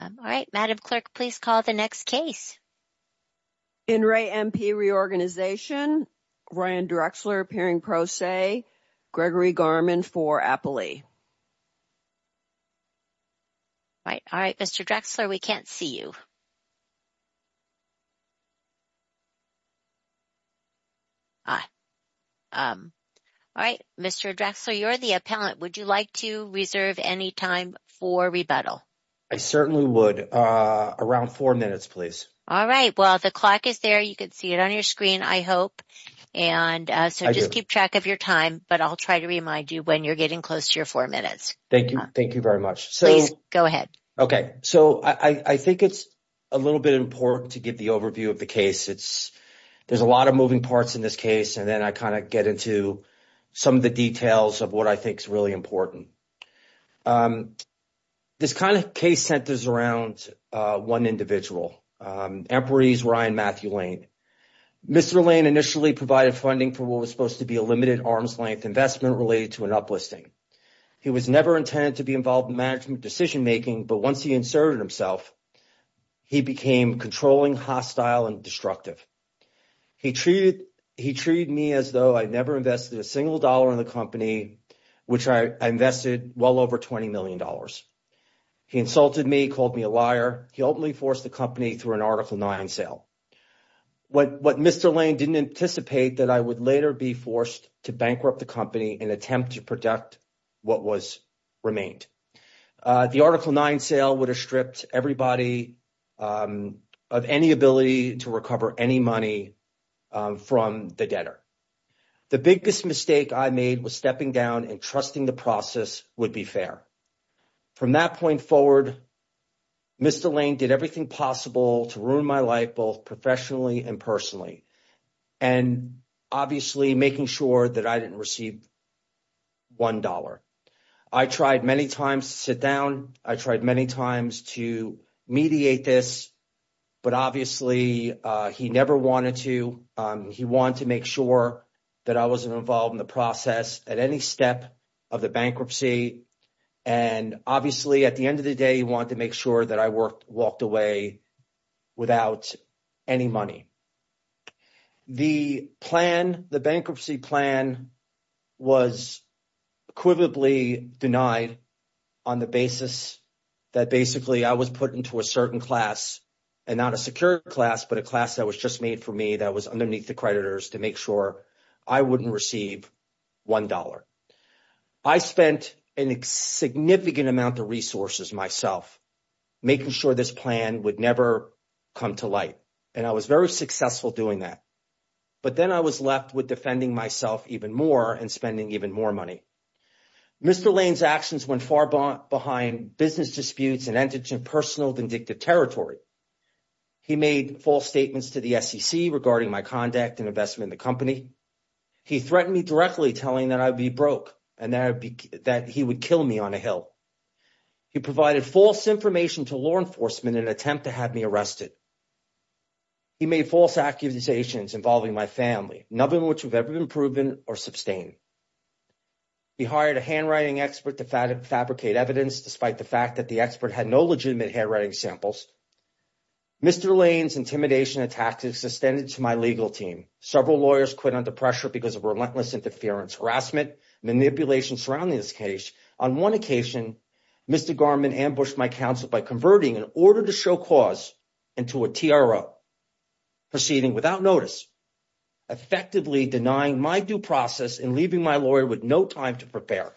All right, madam clerk, please call the next case. In re MP Reorganization. Ryan Drexler appearing pro se Gregory Garmin for Appley. Right. All right. Mr. Drexler, we can't see you. All right, Mr. Drexler, you're the appellant. Would you like to reserve any time for rebuttal? I certainly would. Around four minutes, please. All right. Well, the clock is there. You could see it on your screen, I hope. And so just keep track of your time, but I'll try to remind you when you're getting close to your four minutes. Thank you. Thank you very much. Please go ahead. OK, so I think it's a little bit important to give the overview of the case. It's there's a lot of moving parts in this case. And then I kind of get into some of the details of what I think is really important. This kind of case centers around one individual, Empery's Ryan Matthew Lane. Mr. Lane initially provided funding for what was supposed to be a limited arm's length investment related to an uplisting. He was never intended to be involved in management decision making. But once he inserted himself, he became controlling, hostile and destructive. He treated he treated me as though I'd never invested a single dollar in the company, which I invested well over twenty million dollars. He insulted me, called me a liar. He openly forced the company through an Article 9 sale. What Mr. Lane didn't anticipate that I would later be forced to bankrupt the company and attempt to protect what was remained. The Article 9 sale would have stripped everybody of any ability to recover any money from the debtor. The biggest mistake I made was stepping down and trusting the process would be fair. From that point forward, Mr. Lane did everything possible to ruin my life, both professionally and personally, and obviously making sure that I didn't receive one dollar. I tried many times to sit down. I tried many times to mediate this. But obviously, he never wanted to. He wanted to make sure that I wasn't involved in the process at any step of the bankruptcy. And obviously, at the end of the day, he wanted to make sure that I worked walked away without any money. The bankruptcy plan was equivalently denied on the basis that basically I was put into a certain class and not a secure class, but a class that was just made for me that was underneath the creditors to make sure I wouldn't receive one dollar. I spent a significant amount of resources myself making sure this plan would never come to light. And I was very successful doing that. But then I was left with defending myself even more and spending even more money. Mr. Lane's actions went far behind business disputes and ended in personal vindictive territory. He made false statements to the SEC regarding my conduct and investment in the company. He threatened me directly, telling that I'd be broke and that he would kill me on a hill. He provided false information to law enforcement in an attempt to have me arrested. He made false accusations involving my family, none of which have ever been proven or sustained. He hired a handwriting expert to fabricate evidence, despite the fact that the expert had no legitimate handwriting samples. Mr. Lane's intimidation and tactics extended to my legal team. Several lawyers quit under pressure because of relentless interference, harassment, manipulation surrounding this case. On one occasion, Mr. Garman ambushed my counsel by converting an order to show cause into a TRO, proceeding without notice, effectively denying my due process and leaving my lawyer with no time to prepare.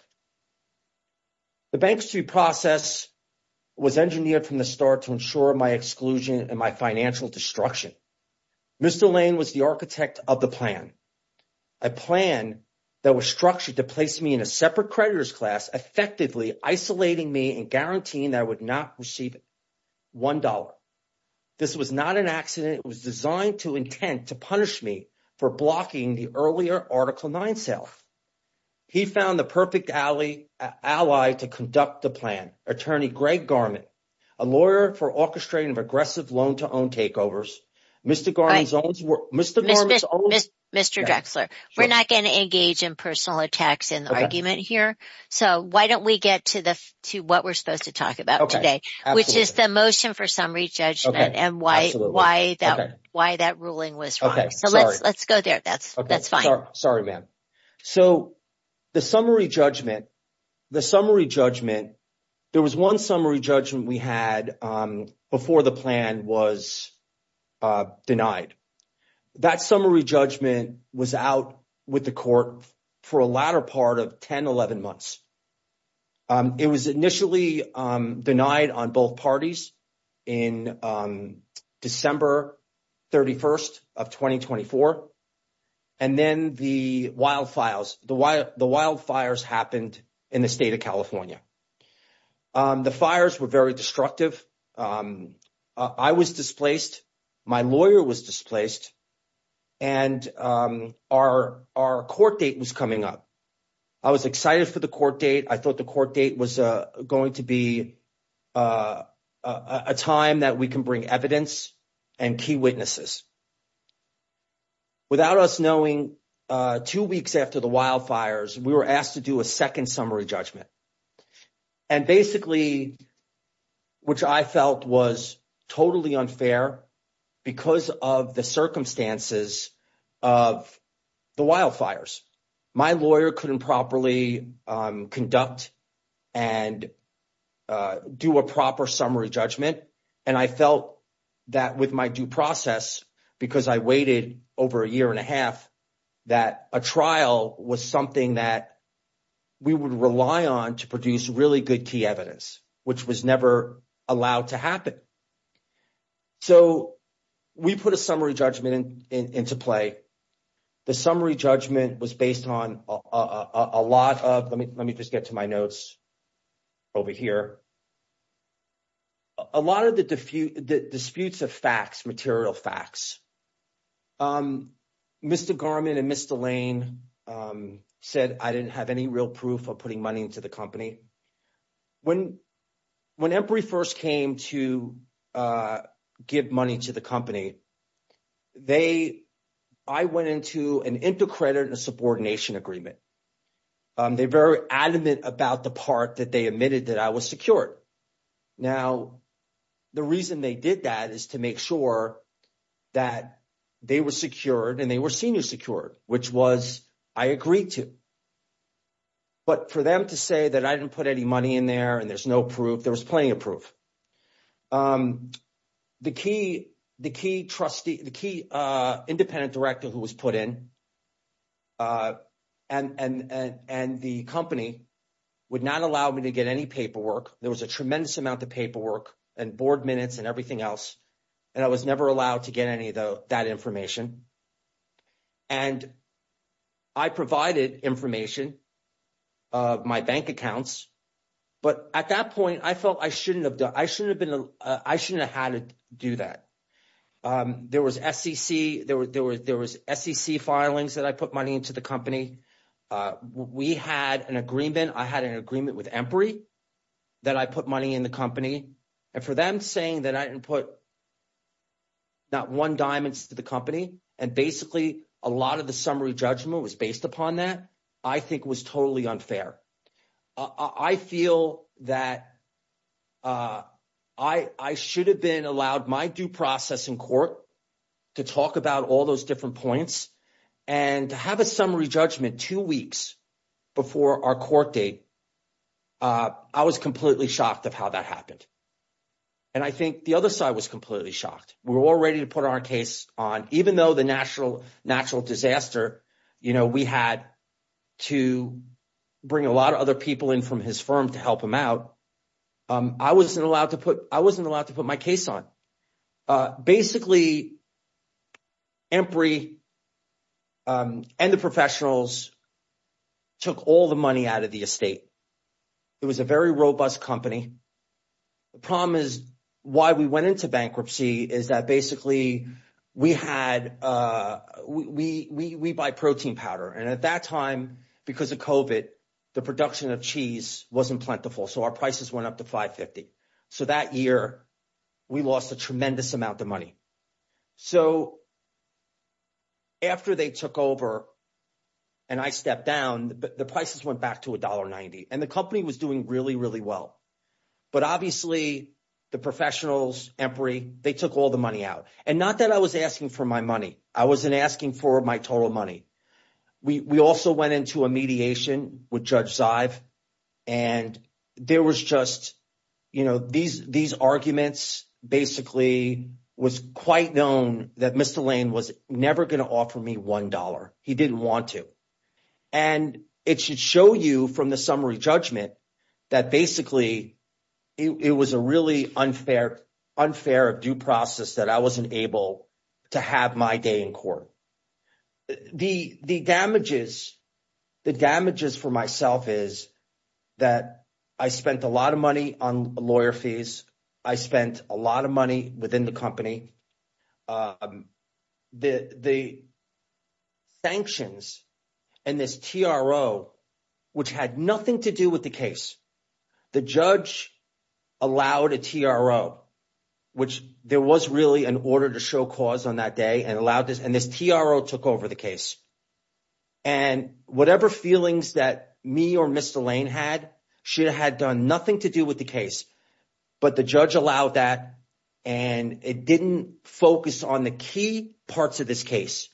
The bankruptcy process was engineered from the start to ensure my exclusion and my financial destruction. Mr. Lane was the architect of the plan. A plan that was to place me in a separate creditor's class, effectively isolating me and guaranteeing that I would not receive $1. This was not an accident. It was designed to intent to punish me for blocking the earlier Article 9 sale. He found the perfect ally to conduct the plan, Attorney Greg Garman, a lawyer for orchestrating of aggressive loan-to-own takeovers. Mr. Drexler, we're not going to engage in personal attacks in the argument here. So why don't we get to what we're supposed to talk about today, which is the motion for summary judgment and why that ruling was wrong. So let's go there. That's fine. Sorry, ma'am. So the summary judgment, there was one summary judgment we had before the plan was denied. That summary judgment was out with the court for a latter part of 10, 11 months. It was initially denied on both parties in December 31st of 2024. And then the wildfires happened in the state of California. The fires were very destructive. I was displaced. My lawyer was displaced. And our court date was coming up. I was excited for the court date. I thought the court date was going to be a time that we can bring evidence and key witnesses. Without us knowing, two weeks after the wildfires, we were asked to do a second summary judgment. And basically, which I felt was totally unfair because of the circumstances of the wildfires. My lawyer couldn't properly conduct and do a proper summary judgment. And I felt that with my due process, because I waited over a year and a half, that a trial was something that we would rely on to produce really good key evidence, which was never allowed to happen. So we put a summary judgment into play. The summary judgment was based on a lot of, let me just get to my notes over here. A lot of the disputes of facts, material facts. Mr. Garmin and Mr. Lane said I didn't have any real proof of putting money into the company. When Empire first came to give money to the company, I went into an intercredit and a subordination agreement. And they're very adamant about the part that they admitted that I was secured. Now, the reason they did that is to make sure that they were secured and they were senior secured, which was, I agreed to. But for them to say that I didn't put any money in there and there's no proof, there was plenty of proof. The key independent director who was put in a subordination agreement and the company would not allow me to get any paperwork. There was a tremendous amount of paperwork and board minutes and everything else. And I was never allowed to get any of that information. And I provided information of my bank accounts. But at that point, I felt I shouldn't have been, I shouldn't have had to do that. There was SEC, there was SEC filings that I put money into the company. We had an agreement. I had an agreement with Empire that I put money in the company. And for them saying that I didn't put not one diamonds to the company. And basically, a lot of the summary judgment was based upon that, I think was totally unfair. I feel that I should have been allowed my due process in court to talk about all those different points and to have a summary judgment two weeks before our court date. I was completely shocked of how that happened. And I think the other side was completely shocked. We're all ready to put our case on. Even though the natural disaster, we had to bring a lot of other people in from his firm to help him out. I wasn't allowed to put my case on. Basically, Empry and the professionals took all the money out of the estate. It was a very robust company. The problem is, why we went into bankruptcy is that basically, we buy protein powder. And at that time, because of COVID, the production of cheese wasn't plentiful. So our prices went up to 550. So that year, we lost a tremendous amount of money. So after they took over and I stepped down, the prices went back to $1.90. And the company was doing really, really well. But obviously, the professionals, Empry, they took all the money out. And not that I was asking for my money. I wasn't asking for my total money. We also went into a mediation with Judge Zive. And there was just these arguments, basically, was quite known that Mr. Lane was never going to offer me $1. He didn't want to. And it should show you from the summary judgment, that basically, it was a really unfair due process that I wasn't able to have my day in court. The damages for myself is that I spent a lot of money on lawyer fees. I spent a lot of money within the company. The sanctions and this TRO, which had nothing to do with the case, the judge allowed a TRO, which there was really an order to show cause on that day and allowed this and this TRO took over the case. And whatever feelings that me or Mr. Lane had, she had done nothing to do with the case, but the judge allowed that. And it didn't focus on the key parts of this case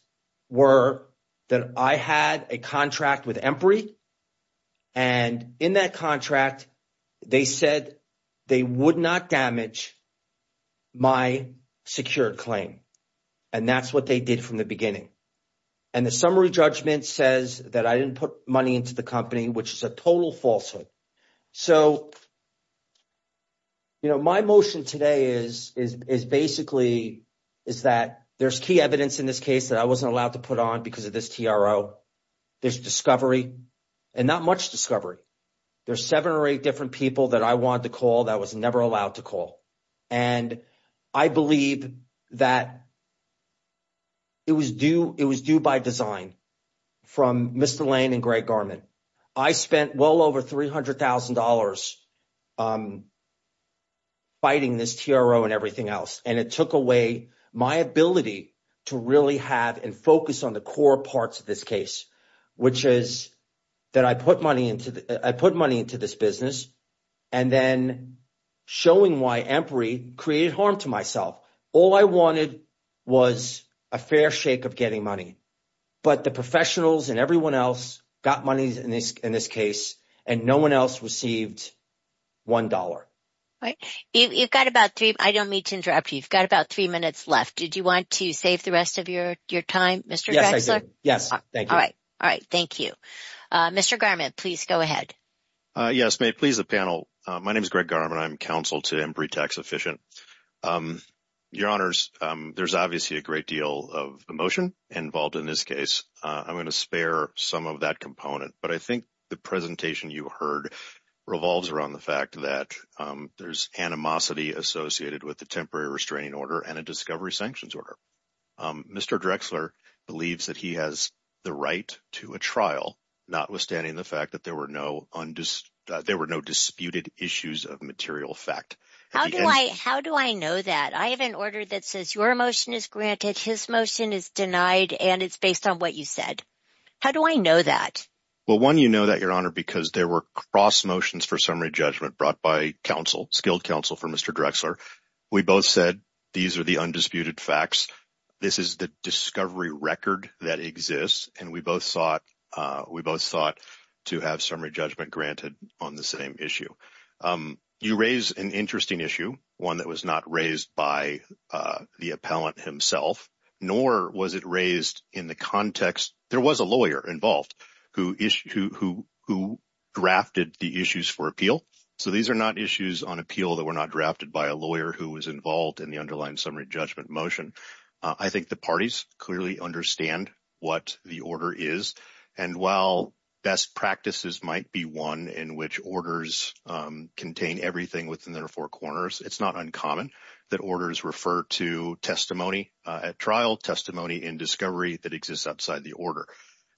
were that I had a contract with Empry. And in that contract, they said they would not damage my secured claim. And that's what they did from the beginning. And the summary judgment says that I didn't put money into the company, which is a total falsehood. So, my motion today is basically, is that there's key evidence in this case that I wasn't allowed to put on because of this TRO. There's discovery and not much discovery. There's seven or eight different people that I wanted to call that was never allowed to call. And I believe that it was due by design from Mr. Lane and Greg Garment. I spent well over $300,000 fighting this TRO and everything else. And it took away my ability to really have and focus on the core parts of this case, which is that I put money into this business and then showing why Empry created harm to myself. All I wanted was a fair shake of getting money. But the professionals and everyone else got money in this case, and no one else received $1. Right. You've got about three. I don't mean to interrupt you. You've got about three minutes left. Did you want to save the rest of your time, Mr. Drexler? Yes, I did. Yes. Thank you. All right. All right. Thank you. Mr. Garment, please go ahead. Yes, may it please the panel. My name is Greg Garment. I'm counsel to Empry Tax Efficient. Your Honors, there's obviously a great deal of emotion involved in this case. I'm going to spare some of that component. But I think the presentation you heard revolves around the fact that there's animosity associated with the temporary restraining order and a discovery sanctions order. Mr. Drexler believes that he has the right to a trial, notwithstanding the fact that there were no disputed issues of material fact. How do I know that? I have an order that says your motion is granted, his motion is denied, and it's based on what you said. How do I know that? Well, one, you know that, Your Honor, because there were cross motions for summary judgment brought by skilled counsel for Mr. Drexler. We both said these are the undisputed facts. This is the discovery record that exists. And we both thought to have summary judgment granted on the same issue. You raise an interesting issue, one that was not raised by the appellant himself, nor was it raised in the context. There was a lawyer involved who drafted the issues for appeal. So these are not issues on appeal that were not drafted by a lawyer who was involved in the underlying summary judgment motion. I think the parties clearly understand what the order is. And while best practices might be one in which orders contain everything within their four corners, it's not uncommon that orders refer to testimony at trial, testimony in discovery that exists outside the order.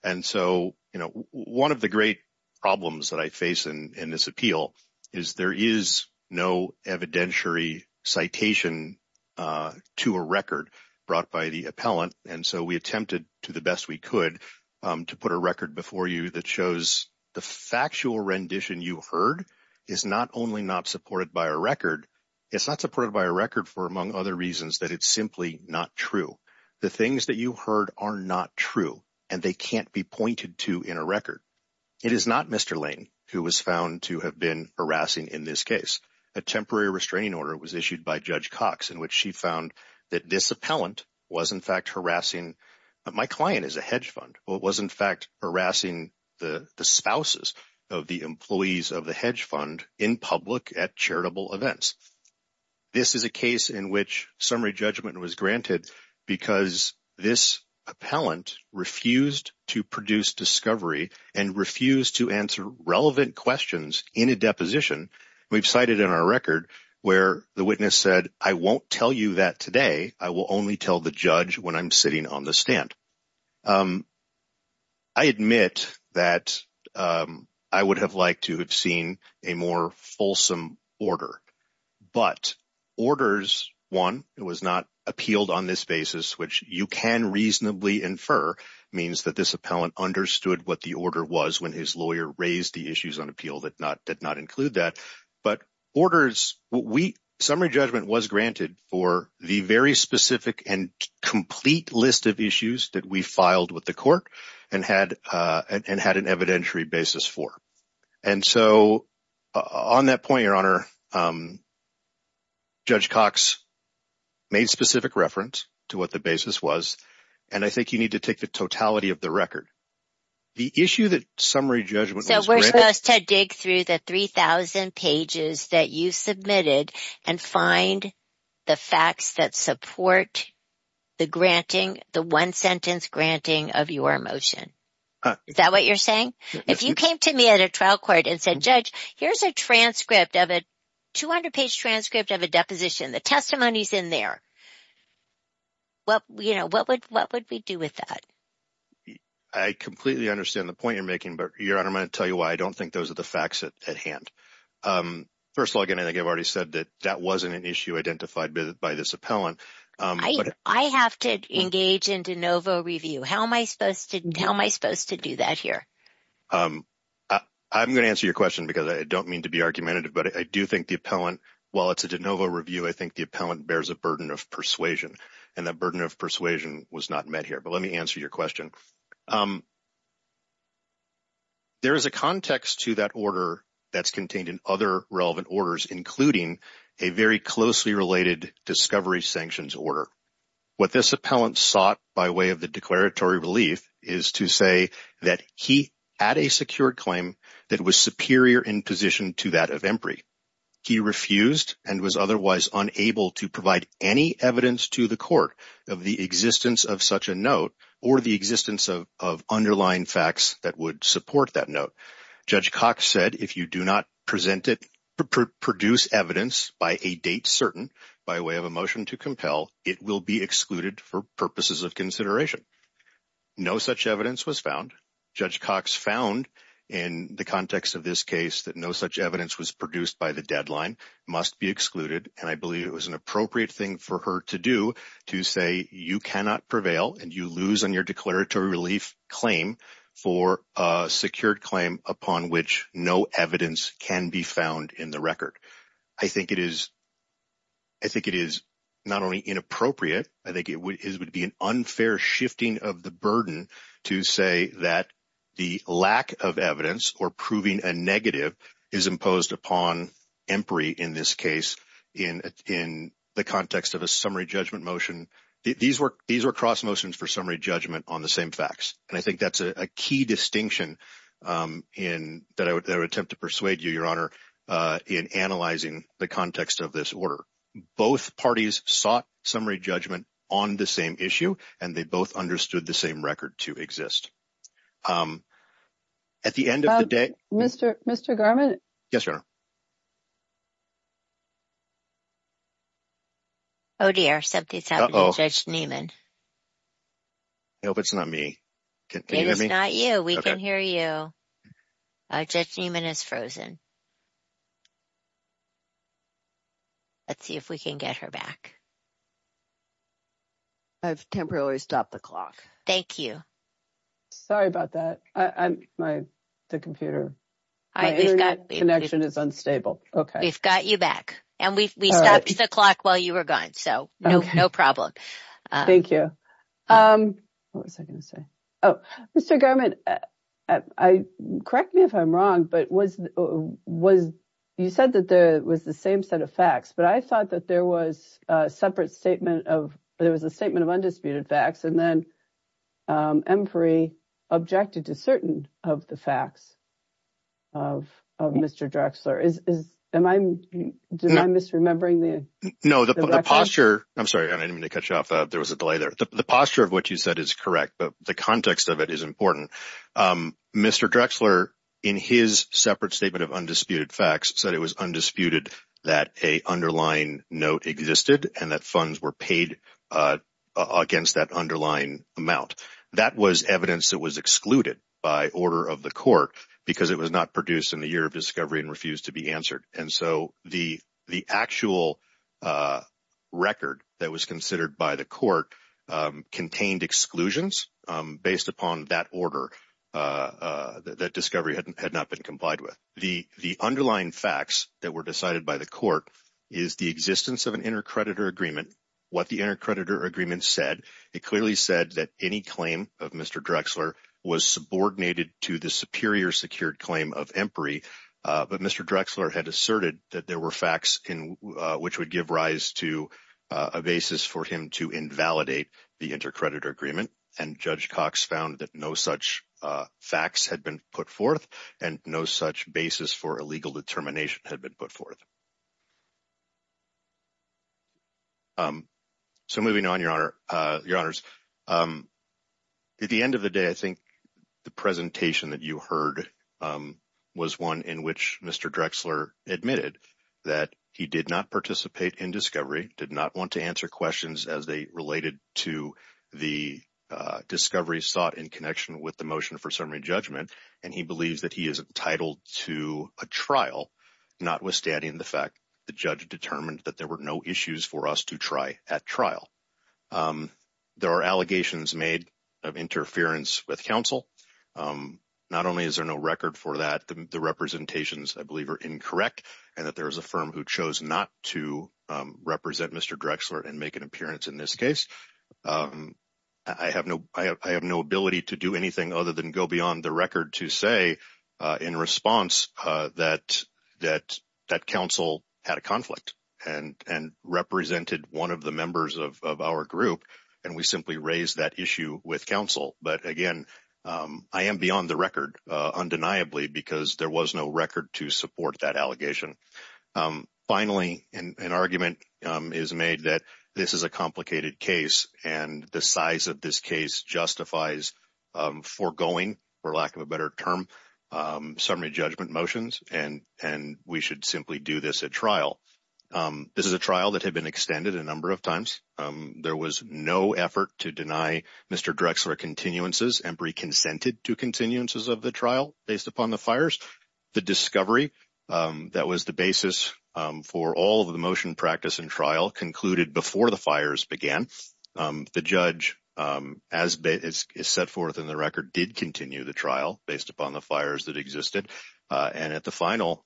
And so, you know, one of the great problems that I face in this appeal is there is no evidentiary citation to a record brought by the appellant. And so we attempted to the best we could to put a record before you that shows the factual rendition you heard is not only not supported by a record, it's not supported by a record for, among other reasons, that it's simply not true. The things that you heard are not true and they can't be pointed to in a record. It is not Mr. Lane who was found to have been harassing in this case. A temporary restraining order was issued by Judge Cox in which she found that this appellant was in fact harassing my client as a hedge fund. Well, it was in fact harassing the spouses of the employees of the hedge fund in public at charitable events. This is a case in which summary judgment was granted because this appellant refused to produce discovery and refused to answer relevant questions in a deposition. We've cited in our record where the witness said, I won't tell you that today. I will only tell the judge when I'm sitting on the stand. I admit that I would have liked to have seen a more fulsome order. But orders, one, it was not appealed on this basis, which you can reasonably infer means that this appellant understood what the order was when his lawyer raised the issues on appeal that did not include that. But orders, summary judgment was granted for the very specific and complete list of issues that we filed with the court and had an evidentiary basis for. And so on that point, Your Honor, Judge Cox made specific reference to what the basis was. And I think you need to take the totality of the record. The issue that summary judgment was So we're supposed to dig through the 3,000 pages that you submitted and find the facts that support the granting, the one sentence granting of your motion. Is that what you're saying? If you came to me at a trial court and said, Judge, here's a transcript of a 200-page transcript of a deposition. The testimony is in there. What would we do with that? I completely understand the point you're making, but Your Honor, I'm going to tell you why I don't think those are the facts at hand. First of all, I think I've already said that that wasn't an issue identified by this appellant. I have to engage in de novo review. How am I supposed to do that here? I'm going to answer your question because I don't mean to be argumentative, but I do think the appellant, while it's a de novo review, I think the appellant bears a burden of persuasion. And that burden of persuasion was not met here. But let me answer your question. There is a context to that order that's contained in other relevant orders, including a very closely related discovery sanctions order. What this appellant sought by way of the that was superior in position to that of MPRI. He refused and was otherwise unable to provide any evidence to the court of the existence of such a note or the existence of underlying facts that would support that note. Judge Cox said, if you do not present it, produce evidence by a date certain by way of a motion to compel, it will be excluded for purposes of consideration. No such evidence was found. Judge Cox found in the context of this case that no such evidence was produced by the deadline, must be excluded. And I believe it was an appropriate thing for her to do to say you cannot prevail and you lose on your declaratory relief claim for a secured claim upon which no evidence can be found in the record. I think it is. I think it is not only inappropriate. I think it would be an unfair shifting of the burden to say that the lack of evidence or proving a negative is imposed upon MPRI in this case in the context of a summary judgment motion. These were these were cross motions for summary judgment on the same facts. And I think that's a key distinction in that I would attempt to persuade you, Your Honor, in analyzing the context of this order. Both parties sought summary judgment on the same issue, and they both understood the same record to exist. At the end of the day, Mr. Mr. Garment. Yes, Your Honor. Oh, dear. Something's happened to Judge Niemann. I hope it's not me. It is not you. We can hear you. Judge Niemann is frozen. Let's see if we can get her back. I've temporarily stopped the clock. Thank you. Sorry about that. I'm my the computer. I've got the connection is unstable. Okay, we've got you back. And we stopped the clock while you were gone. So no, no problem. Thank you. Um, what was I gonna say? Oh, Mr. Garment. I correct me if I'm wrong. But was was you said that there was the same set of facts, but I thought that there was a separate statement of there was a statement of undisputed facts and then MPRI objected to certain of the facts of Mr. Drexler is am I misremembering? No, the posture. I'm sorry. I didn't mean to cut you off. There was a delay there. The posture of what you said is correct, but the context of it is important. Mr. Drexler, in his separate statement of undisputed facts said it was undisputed that a underlying note existed and that funds were paid against that underlying amount. That was evidence that was excluded by order of the court because it was not produced in the year discovery and refused to be answered. And so the actual record that was considered by the court contained exclusions based upon that order that discovery had not been complied with. The underlying facts that were decided by the court is the existence of an intercreditor agreement. What the intercreditor agreement said, it clearly said that any claim of Mr. Drexler was subordinated to the superior secured claim of MPRI. But Mr. Drexler had asserted that there were facts in which would give rise to a basis for him to invalidate the intercreditor agreement. And Judge Cox found that no such facts had been put forth and no such basis for a legal determination had been put forth. So moving on, Your Honor, Your Honors, at the end of the day, I think the presentation that you heard was one in which Mr. Drexler admitted that he did not participate in discovery, did not want to answer questions as they related to the discovery sought in connection with the motion for summary judgment. And he believes that he is entitled to a trial, notwithstanding the fact the judge determined that there were no issues for us to try at trial. There are allegations made of interference with counsel. Not only is there no record for that, the representations, I believe, are incorrect and that there is a firm who chose not to represent Mr. Drexler and make an appearance in this case. I have no ability to do anything other than go beyond the record to say, in response, that counsel had a conflict and represented one of the members of our group, and we simply raised that issue with counsel. But again, I am beyond the record, undeniably, because there was no record to support that allegation. Finally, an argument is made that this is a complicated case and the size of this case justifies foregoing, for lack of a better term, summary judgment motions and we should simply do this at trial. This is a trial that had been extended a number of times. There was no effort to deny Mr. Drexler continuances and pre-consented to continuances of the trial based upon the fires. The discovery that was the basis for all of the motion practice and trial concluded before the fires began. The judge, as is set forth in the record, did continue the trial based upon the fires that existed. At the final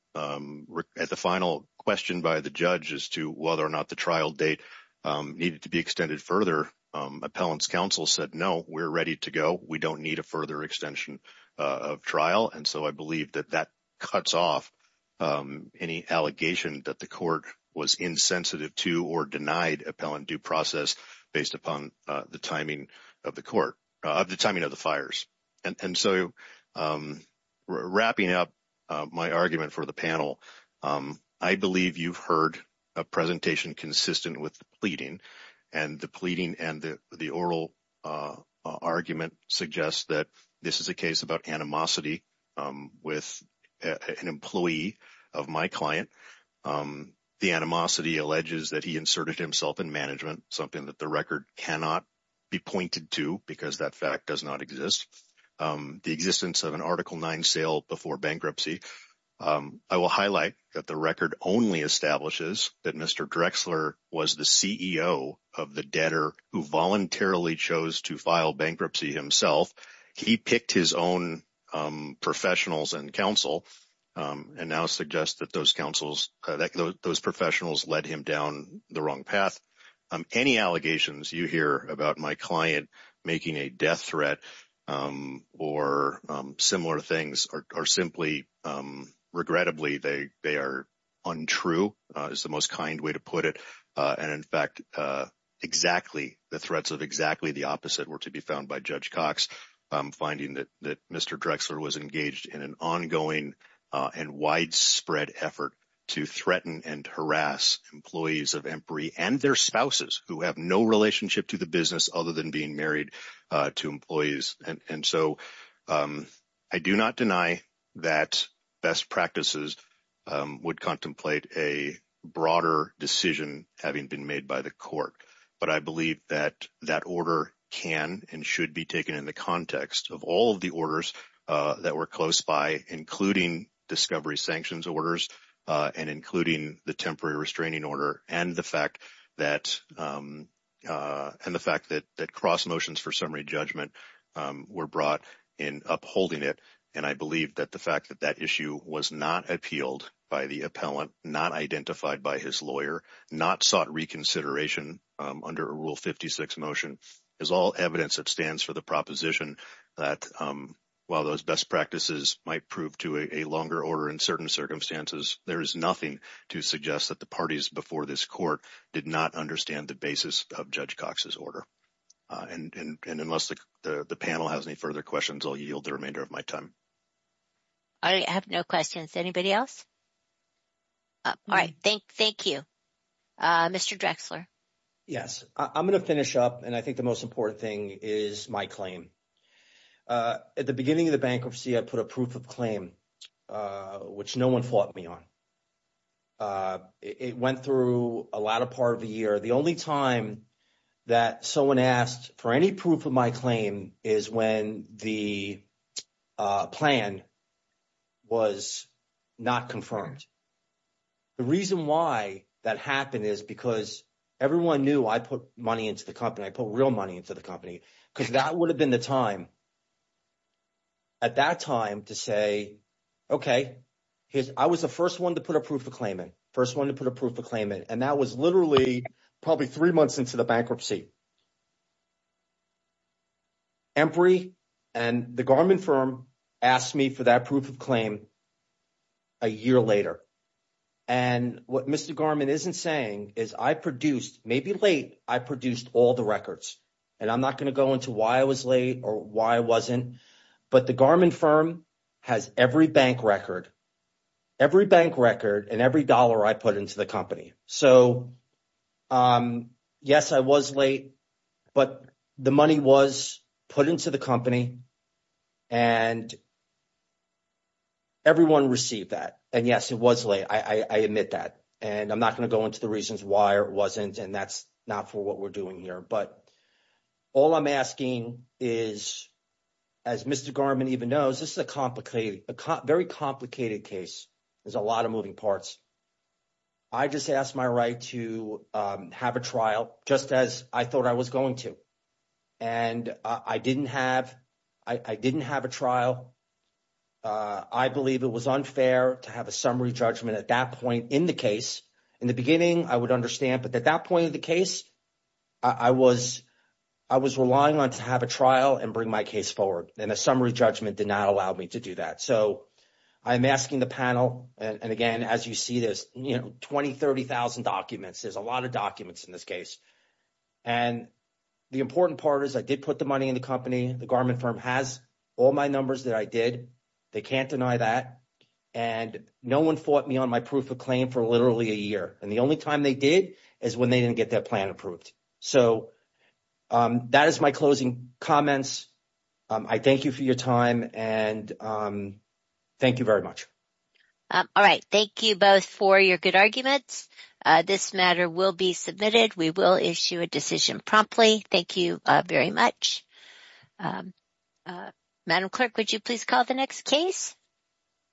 question by the judge as to whether or not the trial date needed to be extended further, appellant's counsel said, no, we're ready to go. We don't need a further extension of trial. I believe that that cuts off any allegation that the court was insensitive to or denied appellant due process based upon the timing of the fires. Wrapping up my argument for the panel, I believe you've heard a presentation consistent with the about animosity with an employee of my client. The animosity alleges that he inserted himself in management, something that the record cannot be pointed to because that fact does not exist. The existence of an Article 9 sale before bankruptcy. I will highlight that the record only establishes that Mr. Drexler was the CEO of the debtor who voluntarily chose to file bankruptcy himself. He picked his own professionals and counsel and now suggests that those counsels, those professionals led him down the wrong path. Any allegations you hear about my client making a death threat or similar things are simply, regrettably, they are untrue is the most kind way to put it. In fact, the threats of exactly the opposite were to be found by Judge Cox, finding that Mr. Drexler was engaged in an ongoing and widespread effort to threaten and harass employees of Emory and their spouses who have no relationship to the business other than being having been made by the court. But I believe that that order can and should be taken in the context of all of the orders that were close by, including discovery sanctions orders and including the temporary restraining order and the fact that cross motions for summary judgment were brought in upholding it. And I believe that the fact that that issue was not appealed by the appellant, not identified by his lawyer, not sought reconsideration under Rule 56 motion is all evidence that stands for the proposition that while those best practices might prove to a longer order in certain circumstances, there is nothing to suggest that the parties before this court did not understand the basis of Judge Cox's order. And unless the panel has any further questions, I'll yield the remainder of my time. I have no questions. Anybody else? Thank you, Mr. Drexler. Yes, I'm going to finish up and I think the most important thing is my claim. At the beginning of the bankruptcy, I put a proof of claim, which no one fought me on. It went through a lot of part of the year. The only time that someone asked for any proof of my claim is when the plan was not confirmed. The reason why that happened is because everyone knew I put money into the company. I put real money into the company because that would have been the time. At that time to say, OK, I was the first one to put a proof of claim, first one to put a proof of claim, and that was literally probably three months into the bankruptcy. Embry and the Garmin firm asked me for that proof of claim a year later. And what Mr. Garmin isn't saying is I produced, maybe late, I produced all the records. And I'm not going to go into why I was late or why I wasn't. But the Garmin firm has every bank record, every bank record and every dollar I put into the company. So, yes, I was late, but the money was put into the company and. Everyone received that, and yes, it was late, I admit that, and I'm not going to go into the reasons why it wasn't and that's not for what we're doing here, but all I'm asking is, as Mr. Garmin even knows, this is a complicated, a very complicated case. There's a lot of moving parts. I just asked my right to have a trial just as I thought I was going to. And I didn't have I didn't have a trial. I believe it was unfair to have a summary judgment at that point in the case. In the beginning, I would understand. But at that point of the case, I was I was relying on to have a trial and bring my case forward and a summary judgment did not allow me to do that. So I'm asking the panel. And again, as you see, there's, you know, twenty thirty thousand documents. There's a lot of documents in this case. And the important part is I did put the money in the company. The Garmin firm has all my numbers that I did. They can't deny that. And no one fought me on my proof of claim for literally a year. And the only time they did is when they didn't get that plan approved. So that is my closing comments. I thank you for your time and thank you very much. All right. Thank you both for your good arguments. This matter will be submitted. We will issue a decision promptly. Thank you very much. Madam Clerk, would you please call the next case?